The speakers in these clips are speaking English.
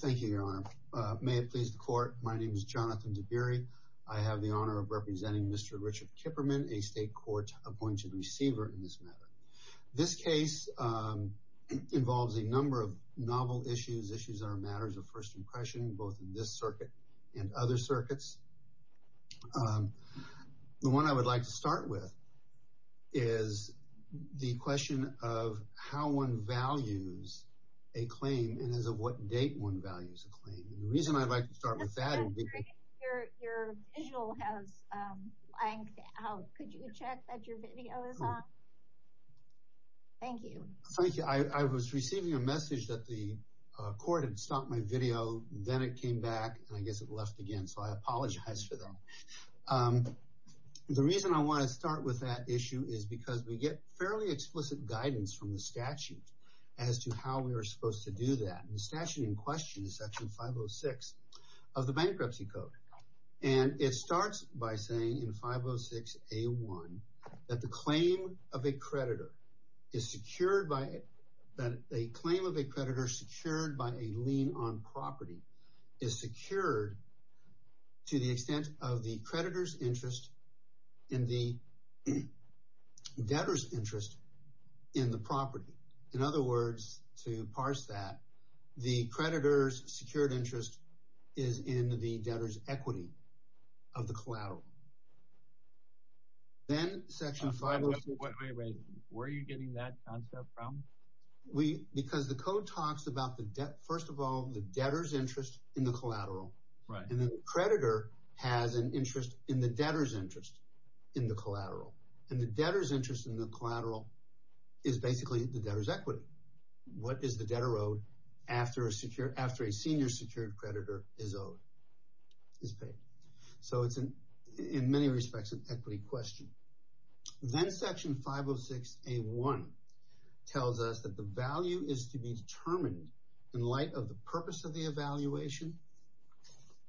Thank you, Your Honor. May it please the court, my name is Jonathan DeBiry. I have the honor of representing Mr. Richard Kipperman, a state court-appointed receiver in this matter. This case involves a number of novel issues, issues that are matters of first impression, both in this circuit and other circuits. The one I would like to start with is the question of how one values a claim and as of what date one values a claim. The reason I'd like to start with that is because... Your visual has blanked out. Could you check that your video is on? Thank you. I was receiving a message that the court had stopped my video, then it came back, and I guess it left again, so I apologize for that. The reason I want to start with that issue is because we get fairly explicit guidance from the statute as to how we are supposed to do that. The statute in question is Section 506 of the Bankruptcy Code. It starts by saying in 506A1 that the claim of a creditor secured by a lien on property is secured to the extent of the creditor's interest in the debtor's interest in the property. In other words, to parse that, the creditor's secured interest is in the debtor's equity of the collateral. Then Section 506... Wait, wait, wait. Where are you getting that concept from? Because the code talks about, first of all, the debtor's interest in the collateral. And the creditor has an interest in the debtor's interest in the collateral. And the debtor's interest in the collateral is basically the debtor's equity. What is the debtor owed after a senior secured creditor is paid? So it's, in many respects, an equity question. Then Section 506A1 tells us that the value is to be determined in light of the purpose of the evaluation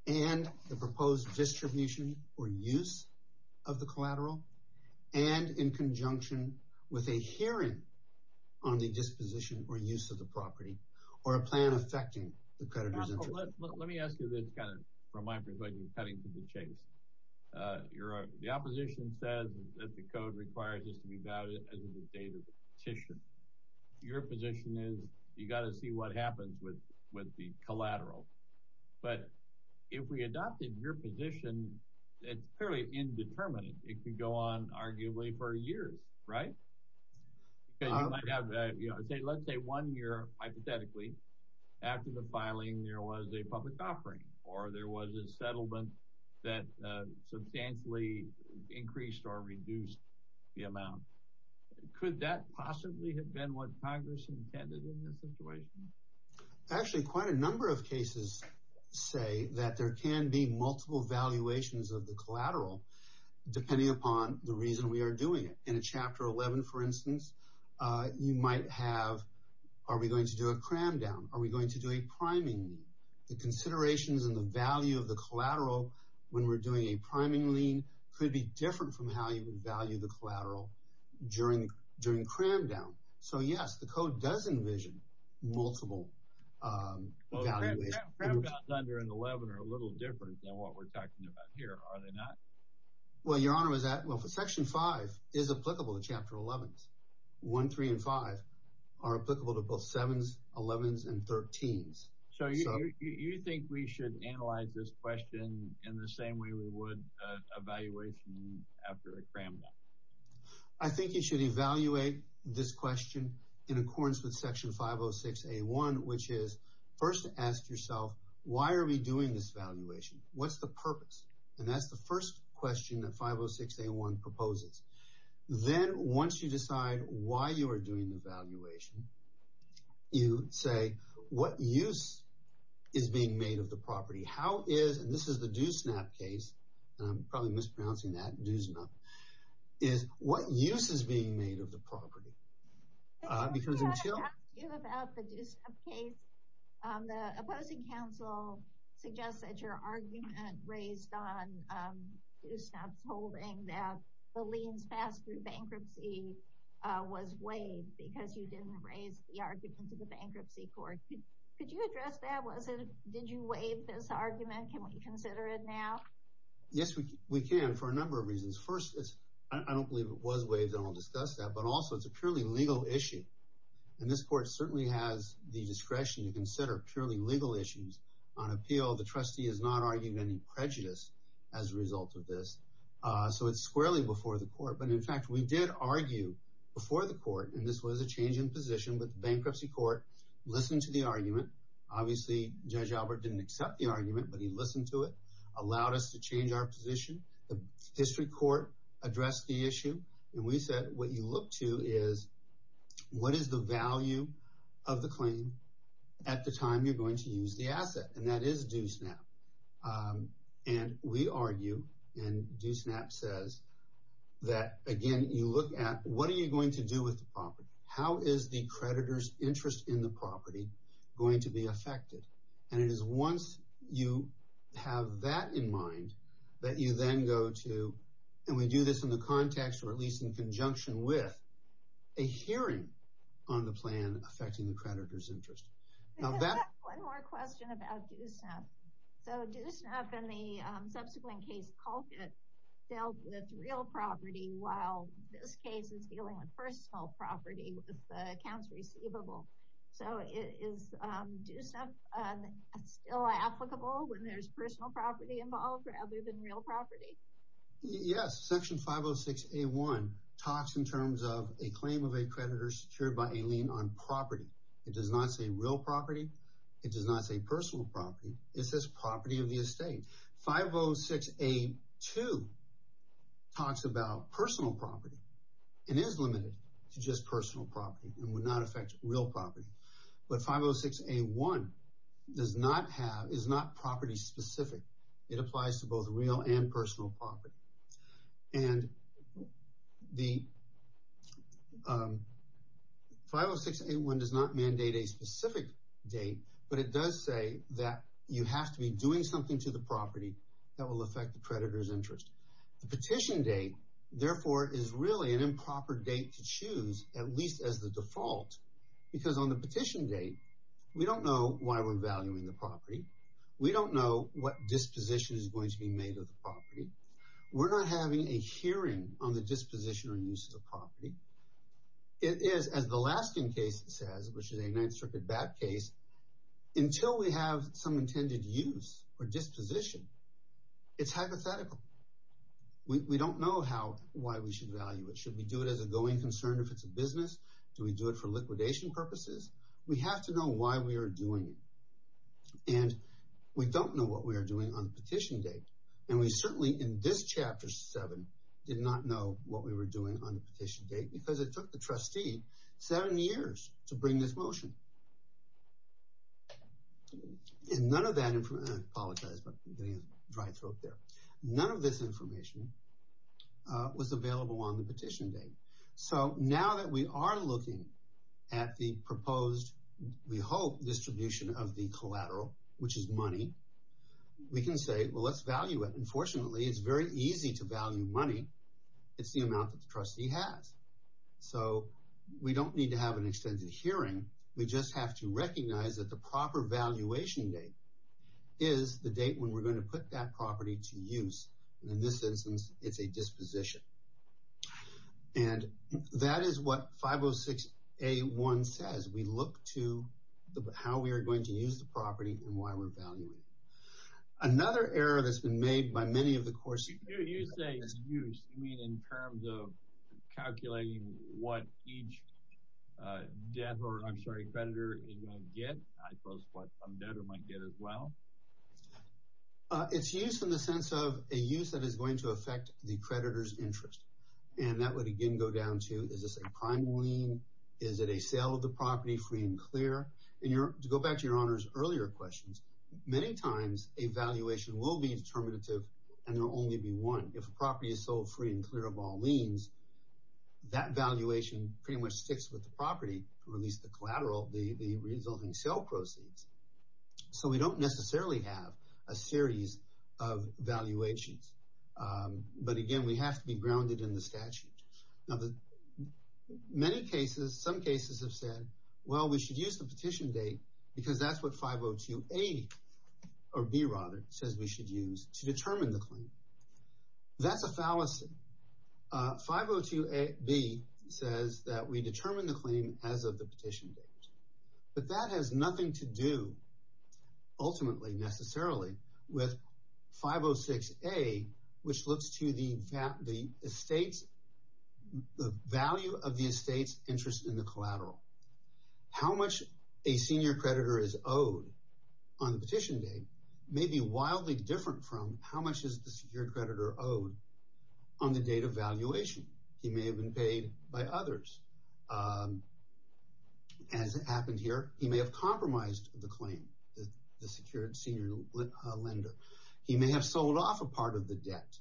and the proposed distribution or use of the collateral, and in conjunction with a hearing on the disposition or use of the property or a plan affecting the creditor's interest. Let me ask you this kind of from my perspective, cutting to the chase. The opposition says that the code requires this to be valid as of the date of the petition. Your position is you've got to see what happens with the collateral. But if we adopted your position, it's fairly indeterminate. It could go on arguably for years, right? Let's say one year, hypothetically, after the filing there was a public offering or there was a settlement that substantially increased or reduced the amount. Could that possibly have been what Congress intended in this situation? Actually, quite a number of cases say that there can be multiple valuations of the collateral depending upon the reason we are doing it. In a Chapter 11, for instance, you might have, are we going to do a cram down? Are we going to do a priming lien? The considerations and the value of the collateral when we're doing a priming lien could be different from how you would value the collateral during cram down. So, yes, the code does envision multiple valuations. Cram downs under 11 are a little different than what we're talking about here, are they not? Well, Your Honor, Section 5 is applicable to Chapter 11s. 1, 3, and 5 are applicable to both 7s, 11s, and 13s. So you think we should analyze this question in the same way we would a valuation after a cram down? I think you should evaluate this question in accordance with Section 506A1, which is, first, ask yourself, why are we doing this valuation? What's the purpose? And that's the first question that 506A1 proposes. Then, once you decide why you are doing the valuation, you say, what use is being made of the property? How is, and this is the Doosnap case, and I'm probably mispronouncing that, Doosnap, is what use is being made of the property? I want to talk to you about the Doosnap case. The opposing counsel suggests that your argument raised on Doosnap's holding that the liens passed through bankruptcy was waived because you didn't raise the argument to the bankruptcy court. Could you address that? Did you waive this argument? Can we consider it now? Yes, we can, for a number of reasons. First, I don't believe it was waived, and I'll discuss that. But also, it's a purely legal issue, and this court certainly has the discretion to consider purely legal issues. On appeal, the trustee has not argued any prejudice as a result of this, so it's squarely before the court. But, in fact, we did argue before the court, and this was a change in position, but the bankruptcy court listened to the argument. Obviously, Judge Albert didn't accept the argument, but he listened to it, allowed us to change our position. The district court addressed the issue, and we said what you look to is what is the value of the claim at the time you're going to use the asset, and that is Doosnap. And we argue, and Doosnap says that, again, you look at what are you going to do with the property? How is the creditor's interest in the property going to be affected? And it is once you have that in mind that you then go to, and we do this in the context, or at least in conjunction with, a hearing on the plan affecting the creditor's interest. Now that- One more question about Doosnap. So Doosnap in the subsequent case called it dealt with real property while this case is dealing with personal property with accounts receivable. So is Doosnap still applicable when there's personal property involved rather than real property? Yes, section 506A1 talks in terms of a claim of a creditor secured by a lien on property. It does not say real property. It does not say personal property. It says property of the estate. 506A2 talks about personal property and is limited to just personal property and would not affect real property. But 506A1 does not have, is not property specific. It applies to both real and personal property. And the 506A1 does not mandate a specific date, but it does say that you have to be doing something to the property that will affect the creditor's interest. The petition date, therefore, is really an improper date to choose, at least as the default, because on the petition date, we don't know why we're valuing the property. We don't know what disposition is going to be made of the property. We're not having a hearing on the disposition or use of the property. It is, as the Laskin case says, which is a Ninth Circuit bat case, until we have some intended use or disposition, it's hypothetical. We don't know why we should value it. Should we do it as a going concern if it's a business? Do we do it for liquidation purposes? We have to know why we are doing it. And we don't know what we are doing on the petition date. And we certainly, in this Chapter 7, did not know what we were doing on the petition date because it took the trustee seven years to bring this motion. And none of that information, and I apologize for getting a dry throat there, none of this information was available on the petition date. So now that we are looking at the proposed, we hope, distribution of the collateral, which is money, we can say, well, let's value it. And fortunately, it's very easy to value money. It's the amount that the trustee has. So we don't need to have an extended hearing. We just have to recognize that the proper valuation date is the date when we're going to put that property to use. In this instance, it's a disposition. And that is what 506A1 says. We look to how we are going to use the property and why we're valuing it. Another error that's been made by many of the courts... You say use. You mean in terms of calculating what each debtor, I'm sorry, creditor is going to get? I suppose what some debtor might get as well? It's use in the sense of a use that is going to affect the creditor's interest. And that would, again, go down to, is this a prime lien? Is it a sale of the property free and clear? To go back to Your Honor's earlier questions, many times a valuation will be determinative and there will only be one. If a property is sold free and clear of all liens, that valuation pretty much sticks with the property, or at least the collateral, the resulting sale proceeds. So we don't necessarily have a series of valuations. But again, we have to be grounded in the statute. Now, many cases, some cases have said, well, we should use the petition date because that's what 502A, or B rather, says we should use to determine the claim. That's a fallacy. 502B says that we determine the claim as of the petition date. But that has nothing to do, ultimately, necessarily, with 506A, which looks to the value of the estate's interest in the collateral. How much a senior creditor is owed on the petition date may be wildly different from how much is the secured creditor owed on the date of valuation. He may have been paid by others. As happened here, he may have compromised the claim, the secured senior lender. He may have sold off a part of the debt.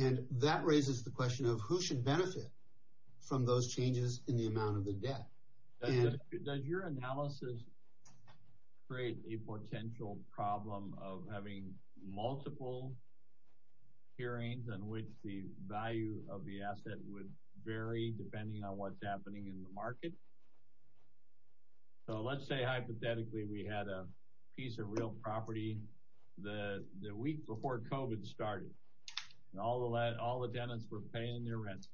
And that raises the question of who should benefit from those changes in the amount of the debt. Does your analysis create a potential problem of having multiple hearings in which the value of the asset would vary, depending on what's happening in the market? So let's say, hypothetically, we had a piece of real property the week before COVID started. All the tenants were paying their rent.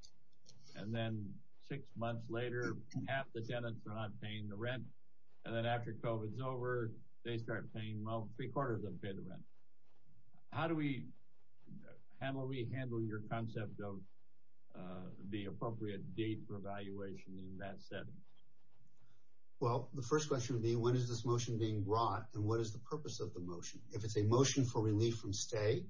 And then six months later, half the tenants are not paying the rent. And then after COVID's over, they start paying, well, three-quarters of them pay the rent. How do we handle your concept of the appropriate date for evaluation in that setting? Well, the first question would be, when is this motion being brought, and what is the purpose of the motion? If it's a motion for relief from stay,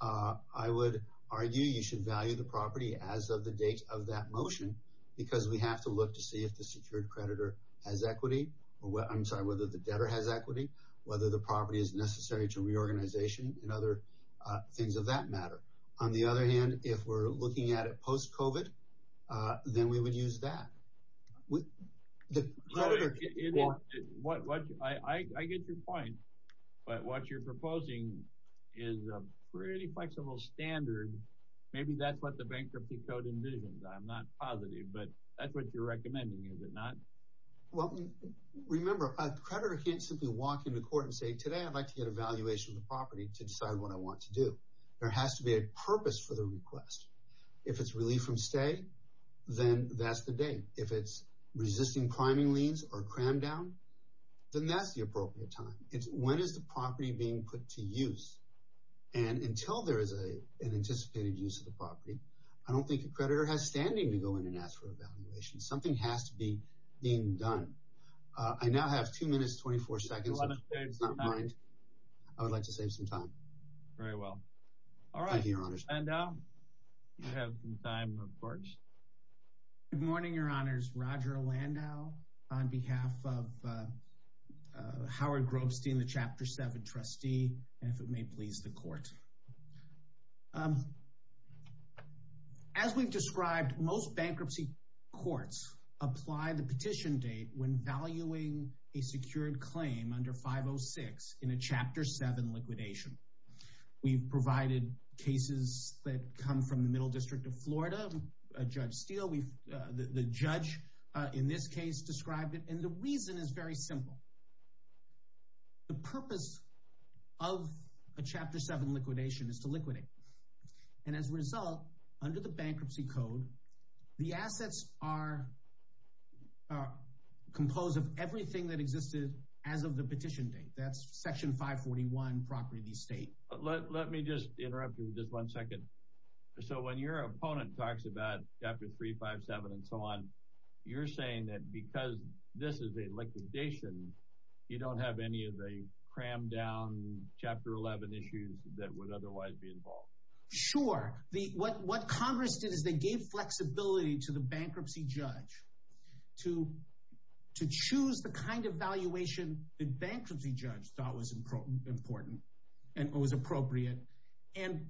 I would argue you should value the property as of the date of that motion, because we have to look to see if the secured creditor has equity, I'm sorry, whether the debtor has equity, whether the property is necessary to reorganization, and other things of that matter. On the other hand, if we're looking at it post-COVID, then we would use that. I get your point. But what you're proposing is a pretty flexible standard. Maybe that's what the Bankruptcy Code envisions. I'm not positive, but that's what you're recommending, is it not? Well, remember, a creditor can't simply walk into court and say, today I'd like to get a valuation of the property to decide what I want to do. There has to be a purpose for the request. If it's relief from stay, then that's the date. If it's resisting priming liens or a cram down, then that's the appropriate time. It's when is the property being put to use. And until there is an anticipated use of the property, I don't think a creditor has standing to go in and ask for a valuation. Something has to be being done. I now have 2 minutes, 24 seconds. I would like to save some time. Very well. All right, Landau, you have some time, of course. Good morning, Your Honors. Roger Landau on behalf of Howard Grobstein, the Chapter 7 trustee, and if it may please the Court. As we've described, most bankruptcy courts apply the petition date when valuing a secured claim under 506 in a Chapter 7 liquidation. We've provided cases that come from the Middle District of Florida. Judge Steele, the judge in this case, described it. And the reason is very simple. The purpose of a Chapter 7 liquidation is to liquidate. And as a result, under the Bankruptcy Code, the assets are composed of everything that existed as of the petition date. That's Section 541, Property of the Estate. Let me just interrupt you for just one second. So when your opponent talks about Chapter 3, 5, 7, and so on, you're saying that because this is a liquidation, you don't have any of the crammed down Chapter 11 issues that would otherwise be involved? Sure. What Congress did is they gave flexibility to the bankruptcy judge to choose the kind of valuation the bankruptcy judge thought was important and was appropriate. And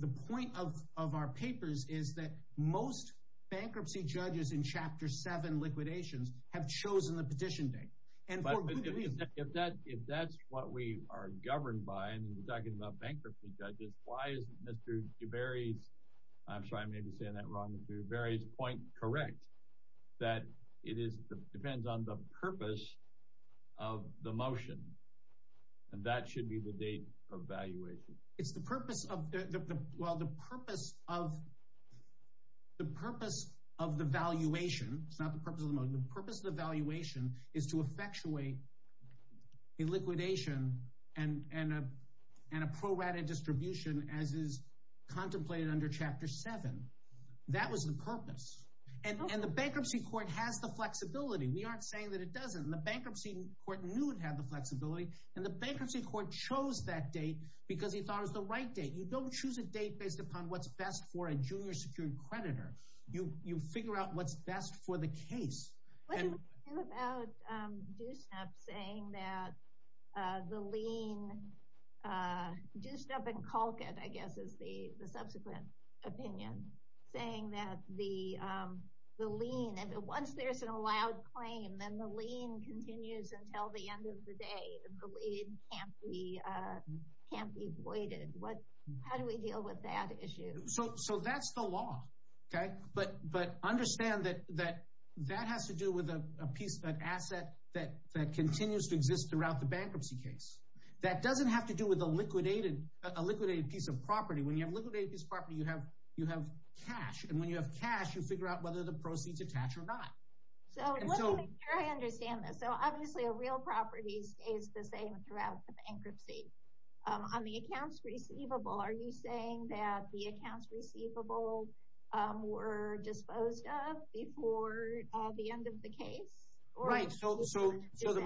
the point of our papers is that most bankruptcy judges in Chapter 7 liquidations have chosen the petition date. If that's what we are governed by, and we're talking about bankruptcy judges, why isn't Mr. DuBarry's point correct that it depends on the purpose of the motion, and that should be the date of valuation? It's the purpose of the valuation. It's not the purpose of the motion. The purpose of the valuation is to effectuate a liquidation and a prorated distribution as is contemplated under Chapter 7. That was the purpose. And the bankruptcy court has the flexibility. We aren't saying that it doesn't. The bankruptcy court knew it had the flexibility, and the bankruptcy court chose that date because he thought it was the right date. You don't choose a date based upon what's best for a junior secured creditor. You figure out what's best for the case. What do we do about DUSNAP saying that the lien, DUSNAP and Colquitt, I guess, is the subsequent opinion, saying that the lien, once there's an allowed claim, then the lien continues until the end of the day, and the lien can't be voided. How do we deal with that issue? So that's the law. But understand that that has to do with an asset that continues to exist throughout the bankruptcy case. That doesn't have to do with a liquidated piece of property. When you have a liquidated piece of property, you have cash. And when you have cash, you figure out whether the proceeds attach or not. Let me make sure I understand this. Obviously, a real property stays the same throughout the bankruptcy. On the accounts receivable, are you saying that the accounts receivable were disposed of before the end of the case? Right. So the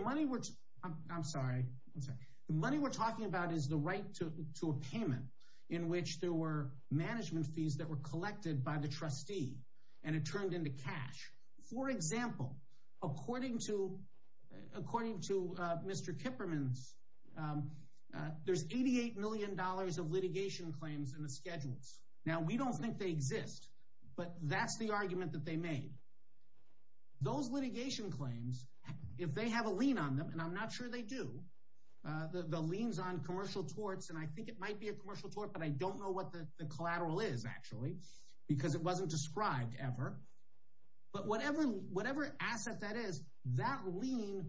money we're talking about is the right to a payment in which there were management fees that were collected by the trustee, and it turned into cash. For example, according to Mr. Kipperman's, there's $88 million of litigation claims in the schedules. Now, we don't think they exist, but that's the argument that they made. Those litigation claims, if they have a lien on them, and I'm not sure they do, the liens on commercial torts, and I think it might be a commercial tort, but I don't know what the collateral is, actually, because it wasn't described ever. But whatever asset that is, that lien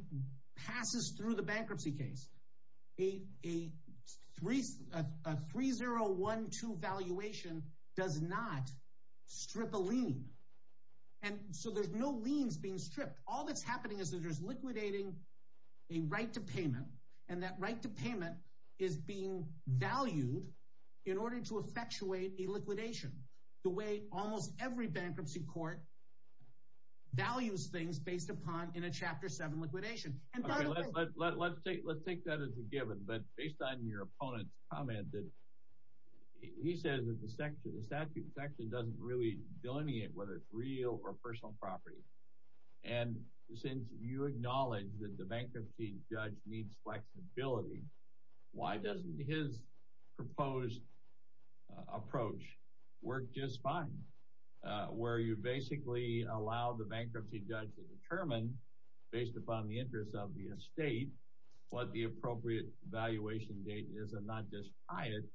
passes through the bankruptcy case. A 3012 valuation does not strip a lien. And so there's no liens being stripped. All that's happening is that there's liquidating a right to payment, and that right to payment is being valued in order to effectuate a liquidation, the way almost every bankruptcy court values things based upon in a Chapter 7 liquidation. Okay, let's take that as a given, but based on your opponent's comment, he says that the statute actually doesn't really delineate whether it's real or personal property. And since you acknowledge that the bankruptcy judge needs flexibility, why doesn't his proposed approach work just fine, where you basically allow the bankruptcy judge to determine based upon the interests of the estate what the appropriate valuation date is and not just tie it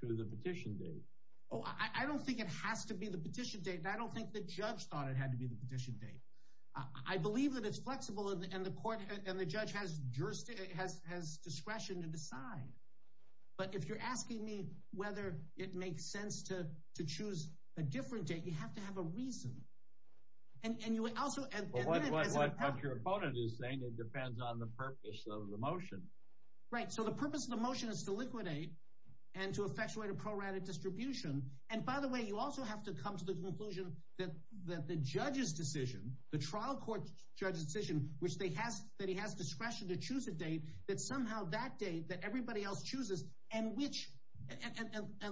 to the petition date? Oh, I don't think it has to be the petition date, and I don't think the judge thought it had to be the petition date. I believe that it's flexible, and the court and the judge has discretion to decide. But if you're asking me whether it makes sense to choose a different date, you have to have a reason. What your opponent is saying, it depends on the purpose of the motion. Right, so the purpose of the motion is to liquidate and to effectuate a prorated distribution. And by the way, you also have to come to the conclusion that the judge's decision, the trial court judge's decision, that he has discretion to choose a date, that somehow that date that everybody else chooses, and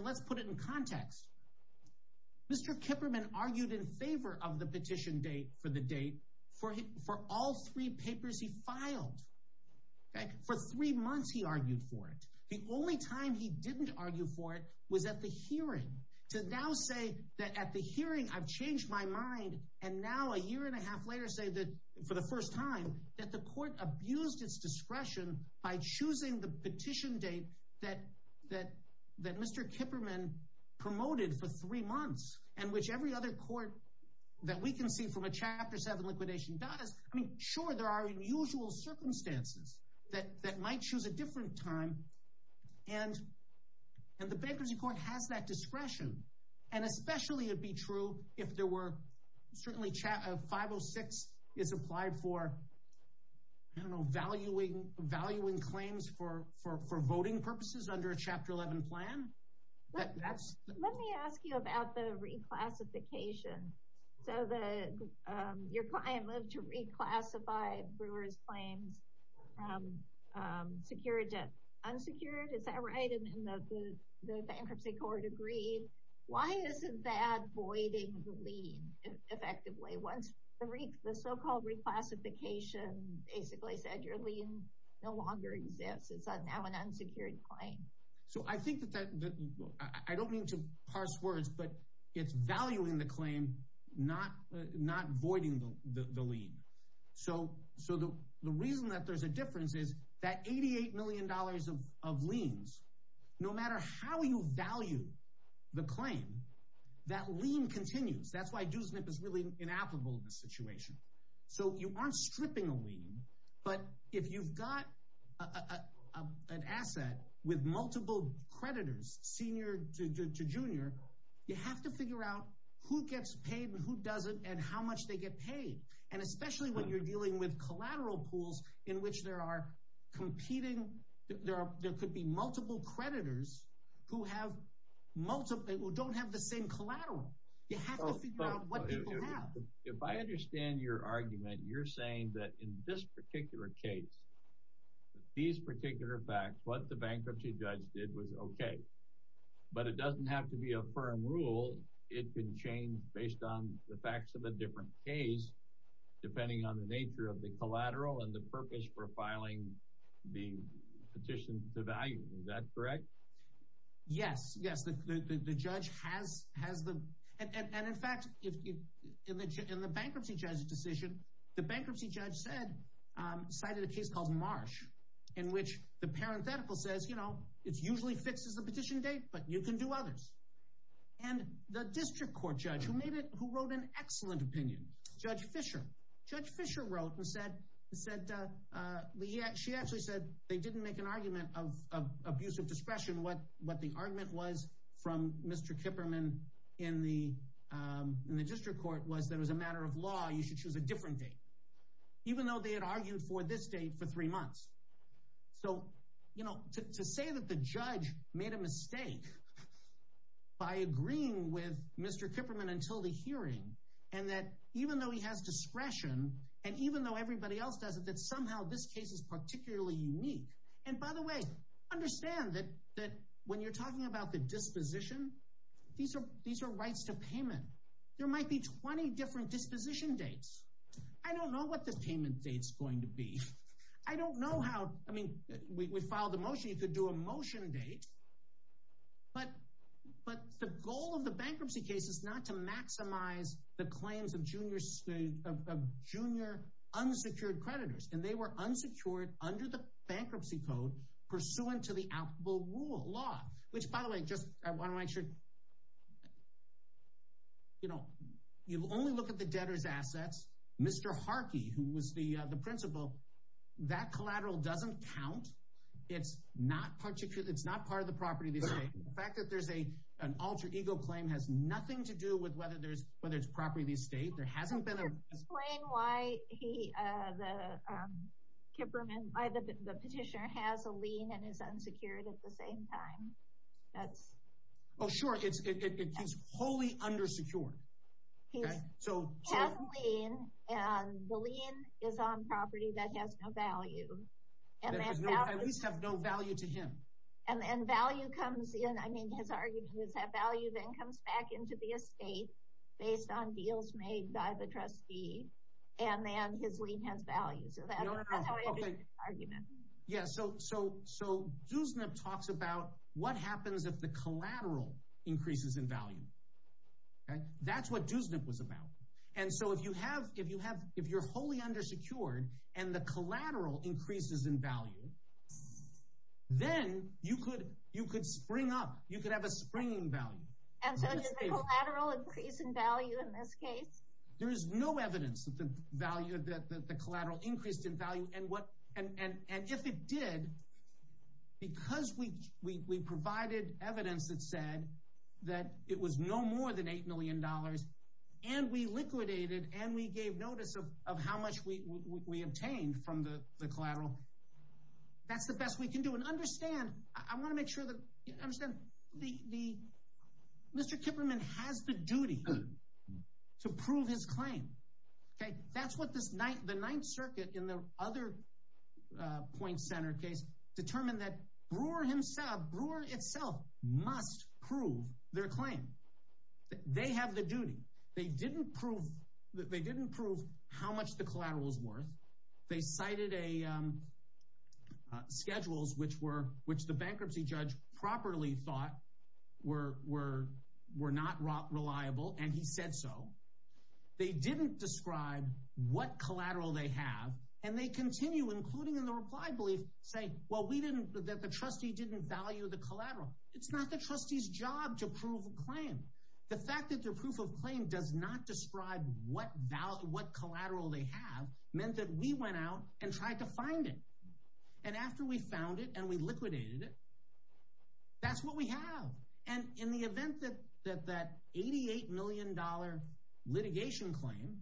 let's put it in context, Mr. Kipperman argued in favor of the petition date for the date for all three papers he filed. For three months he argued for it. The only time he didn't argue for it was at the hearing. To now say that at the hearing I've changed my mind, and now a year and a half later say that for the first time that the court abused its discretion by choosing the petition date that Mr. Kipperman promoted for three months, and which every other court that we can see from a Chapter 7 liquidation does. I mean, sure, there are unusual circumstances that might choose a different time, and the bankruptcy court has that discretion. And especially it'd be true if there were, certainly 506 is applied for, I don't know, valuing claims for voting purposes under a Chapter 11 plan. Let me ask you about the reclassification. So your client moved to reclassify Brewer's claims, secured to unsecured, is that right? And the bankruptcy court agreed. Why isn't that voiding the lien effectively? Once the so-called reclassification basically said your lien no longer exists, it's now an unsecured claim. So I think that that, I don't mean to parse words, but it's valuing the claim, not voiding the lien. So the reason that there's a difference is that $88 million of liens, no matter how you value the claim, that lien continues. That's why Do SNP is really inapplicable in this situation. So you aren't stripping a lien, but if you've got an asset with multiple creditors, senior to junior, you have to figure out who gets paid and who doesn't and how much they get paid. And especially when you're dealing with collateral pools in which there are competing, there could be multiple creditors who don't have the same collateral. You have to figure out what people have. If I understand your argument, you're saying that in this particular case, these particular facts, what the bankruptcy judge did was okay, but it doesn't have to be a firm rule. It can change based on the facts of a different case, depending on the nature of the collateral and the purpose for filing the petition to value. Is that correct? Yes, yes. The judge has the... And in fact, in the bankruptcy judge's decision, the bankruptcy judge cited a case called Marsh in which the parenthetical says, you know, it usually fixes the petition date, but you can do others. And the district court judge, who wrote an excellent opinion, Judge Fisher. Judge Fisher wrote and said... She actually said they didn't make an argument of abuse of discretion. What the argument was from Mr. Kipperman in the district court was that it was a matter of law. You should choose a different date, even though they had argued for this date for three months. So, you know, to say that the judge made a mistake by agreeing with Mr. Kipperman until the hearing and that even though he has discretion and even though everybody else does it, that somehow this case is particularly unique. And by the way, understand that when you're talking about the disposition, these are rights to payment. There might be 20 different disposition dates. I don't know what the payment date's going to be. I don't know how... I mean, we filed the motion. You could do a motion date. But the goal of the bankruptcy case is not to maximize the claims of junior unsecured creditors, and they were unsecured under the bankruptcy code pursuant to the applicable law, which, by the way, just I want to make sure... You know, you only look at the debtor's assets. Mr. Harkey, who was the principal, that collateral doesn't count. It's not part of the property. The fact that there's an alter ego claim has nothing to do with whether it's property of the estate. There hasn't been a... Can you explain why the petitioner has a lien and is unsecured at the same time? Oh, sure. He's wholly undersecured. He has a lien, and the lien is on property that has no value. At least have no value to him. And value comes in. I mean, his argument is that value then comes back into the estate based on deals made by the trustee, and then his lien has value. So that's another way to do the argument. Yeah, so Dusnip talks about what happens if the collateral increases in value. That's what Dusnip was about. And so if you're wholly undersecured, and the collateral increases in value, then you could spring up. You could have a spring in value. And so is there a collateral increase in value in this case? There is no evidence that the collateral increased in value. And if it did, because we provided evidence that said that it was no more than $8 million, and we liquidated and we gave notice of how much we obtained from the collateral, that's the best we can do. And understand, I want to make sure that you understand, Mr. Kipperman has the duty to prove his claim. That's what the Ninth Circuit in their other point center case determined that Brewer himself, Brewer itself, must prove their claim. They have the duty. They didn't prove how much the collateral was worth. They cited schedules which the bankruptcy judge properly thought were not reliable, and he said so. They didn't describe what collateral they have, and they continue, including in the reply brief, saying that the trustee didn't value the collateral. It's not the trustee's job to prove a claim. The fact that their proof of claim does not describe what collateral they have meant that we went out and tried to find it. And after we found it and we liquidated it, that's what we have. And in the event that that $88 million litigation claim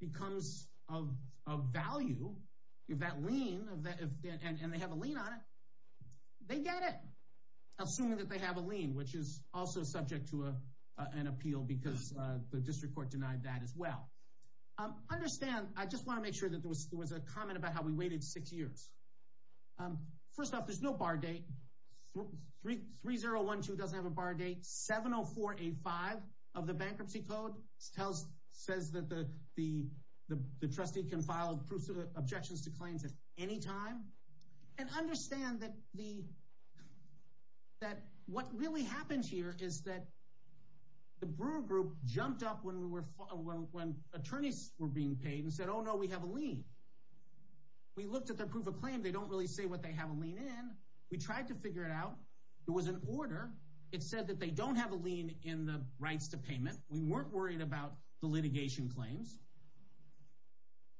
becomes of value, if that lien, and they have a lien on it, they get it, assuming that they have a lien, which is also subject to an appeal because the district court denied that as well. Understand, I just want to make sure that there was a comment about how we waited six years. First off, there's no bar date. 3012 doesn't have a bar date. 70485 of the bankruptcy code says that the trustee can file proofs of objections to claims at any time. And understand that what really happens here is that the Brewer Group jumped up when attorneys were being paid and said, oh, no, we have a lien. We looked at their proof of claim. They don't really say what they have a lien in. We tried to figure it out. There was an order. It said that they don't have a lien in the rights to payment. We weren't worried about the litigation claims.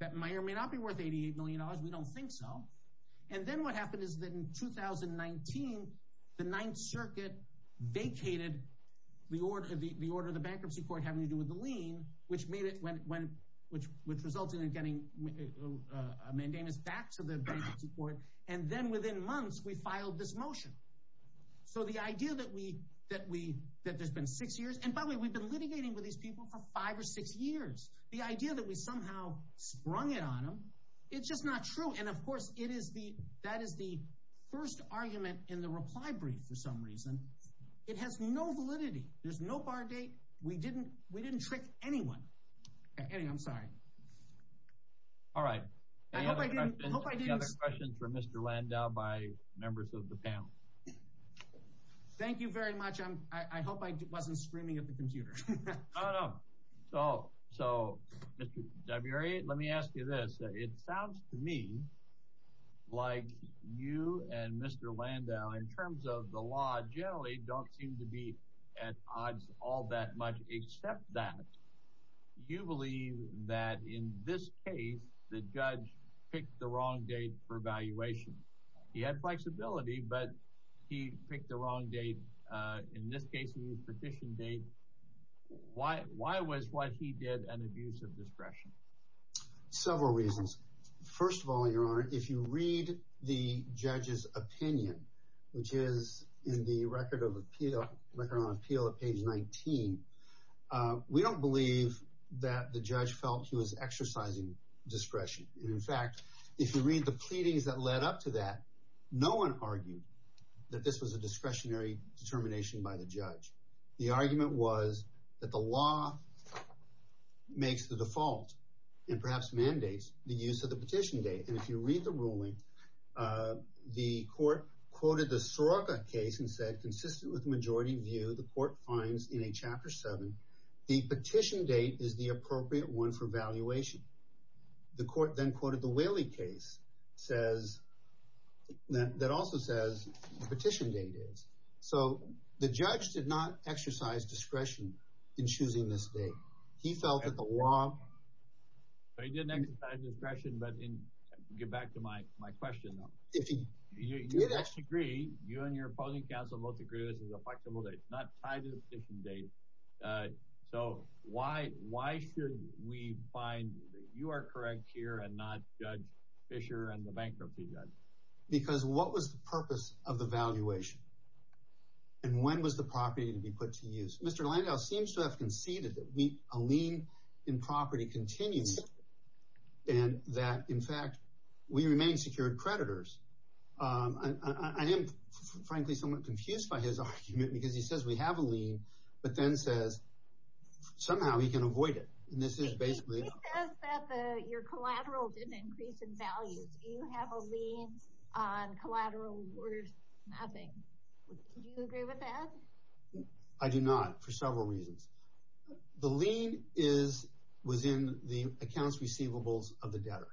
That may or may not be worth $88 million. We don't think so. And then what happened is that in 2019, the Ninth Circuit vacated the order of the bankruptcy court having to do with the lien, which resulted in getting mandamus back to the bankruptcy court. And then within months, we filed this motion. So the idea that there's been six years... And by the way, we've been litigating with these people for five or six years. The idea that we somehow sprung it on them, it's just not true. And, of course, that is the first argument in the reply brief for some reason. It has no validity. There's no bar date. We didn't trick anyone. Anyway, I'm sorry. All right. Any other questions for Mr. Landau by members of the panel? Thank you very much. I hope I wasn't screaming at the computer. Oh, no. So, Mr. Dabiri, let me ask you this. It sounds to me like you and Mr. Landau, in terms of the law, generally don't seem to be at odds all that much except that you believe that in this case, the judge picked the wrong date for evaluation. He had flexibility, but he picked the wrong date. In this case, he used petition date. Why was what he did an abuse of discretion? Several reasons. First of all, Your Honor, if you read the judge's opinion, which is in the Record of Appeal on page 19, we don't believe that the judge felt he was exercising discretion. In fact, if you read the pleadings that led up to that, the argument was that the law makes the default and perhaps mandates the use of the petition date. And if you read the ruling, the court quoted the Soroka case and said, consistent with the majority view the court finds in a Chapter 7, the petition date is the appropriate one for valuation. The court then quoted the Whaley case that also says the petition date is. So the judge did not exercise discretion in choosing this date. He felt that the law. He didn't exercise discretion. But get back to my question, though. You and your opposing counsel both agree this is a flexible date, not tied to the petition date. So why should we find that you are correct here and not Judge Fisher and the bankruptcy judge? Because what was the purpose of the valuation? And when was the property to be put to use? Mr. Landau seems to have conceded that a lien in property continues and that, in fact, we remain secured creditors. I am, frankly, somewhat confused by his argument because he says we have a lien, but then says somehow he can avoid it. And this is basically. He says that your collateral didn't increase in value. Do you have a lien on collateral worth nothing? Do you agree with that? I do not for several reasons. The lien was in the accounts receivables of the debtor.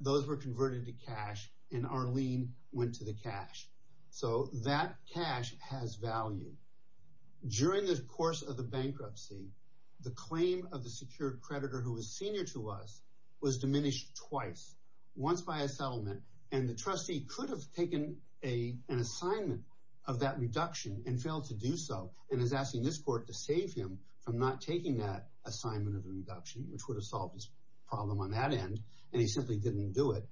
Those were converted to cash, and our lien went to the cash. So that cash has value. During the course of the bankruptcy, the claim of the secured creditor who was senior to us was diminished twice, once by a settlement, and the trustee could have taken an assignment of that reduction and failed to do so and is asking this court to save him from not taking that assignment of the reduction, which would have solved his problem on that end, and he simply didn't do it.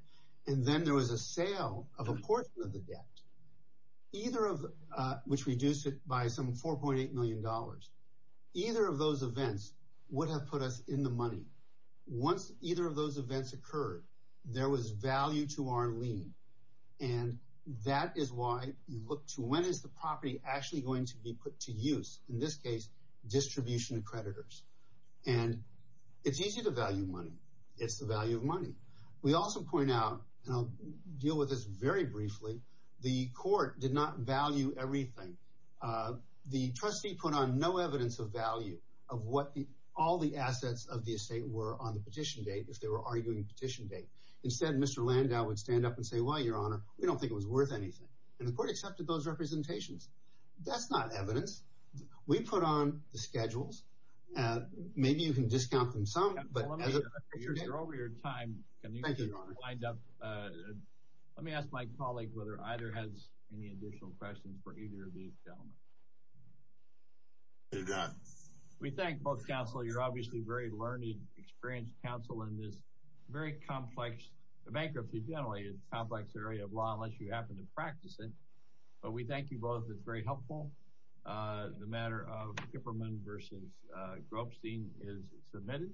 And then there was a sale of a portion of the debt, which reduced it by some $4.8 million. Either of those events would have put us in the money. Once either of those events occurred, there was value to our lien, and that is why you look to when is the property actually going to be put to use, in this case distribution of creditors. And it's easy to value money. It's the value of money. We also point out, and I'll deal with this very briefly, the court did not value everything. The trustee put on no evidence of value of what all the assets of the estate were on the petition date, if they were arguing the petition date. Instead, Mr. Landau would stand up and say, well, Your Honor, we don't think it was worth anything. And the court accepted those representations. That's not evidence. We put on the schedules. Maybe you can discount them some, but as of today... I'm sure you're over your time. Thank you, Your Honor. Let me ask my colleague whether either has any additional questions for either of these gentlemen. We thank both counsel. You're obviously very learned, experienced counsel in this very complex bankruptcy. Generally, it's a complex area of law, unless you happen to practice it. But we thank you both. It's very helpful. The matter of Kipperman v. Gropstein is submitted.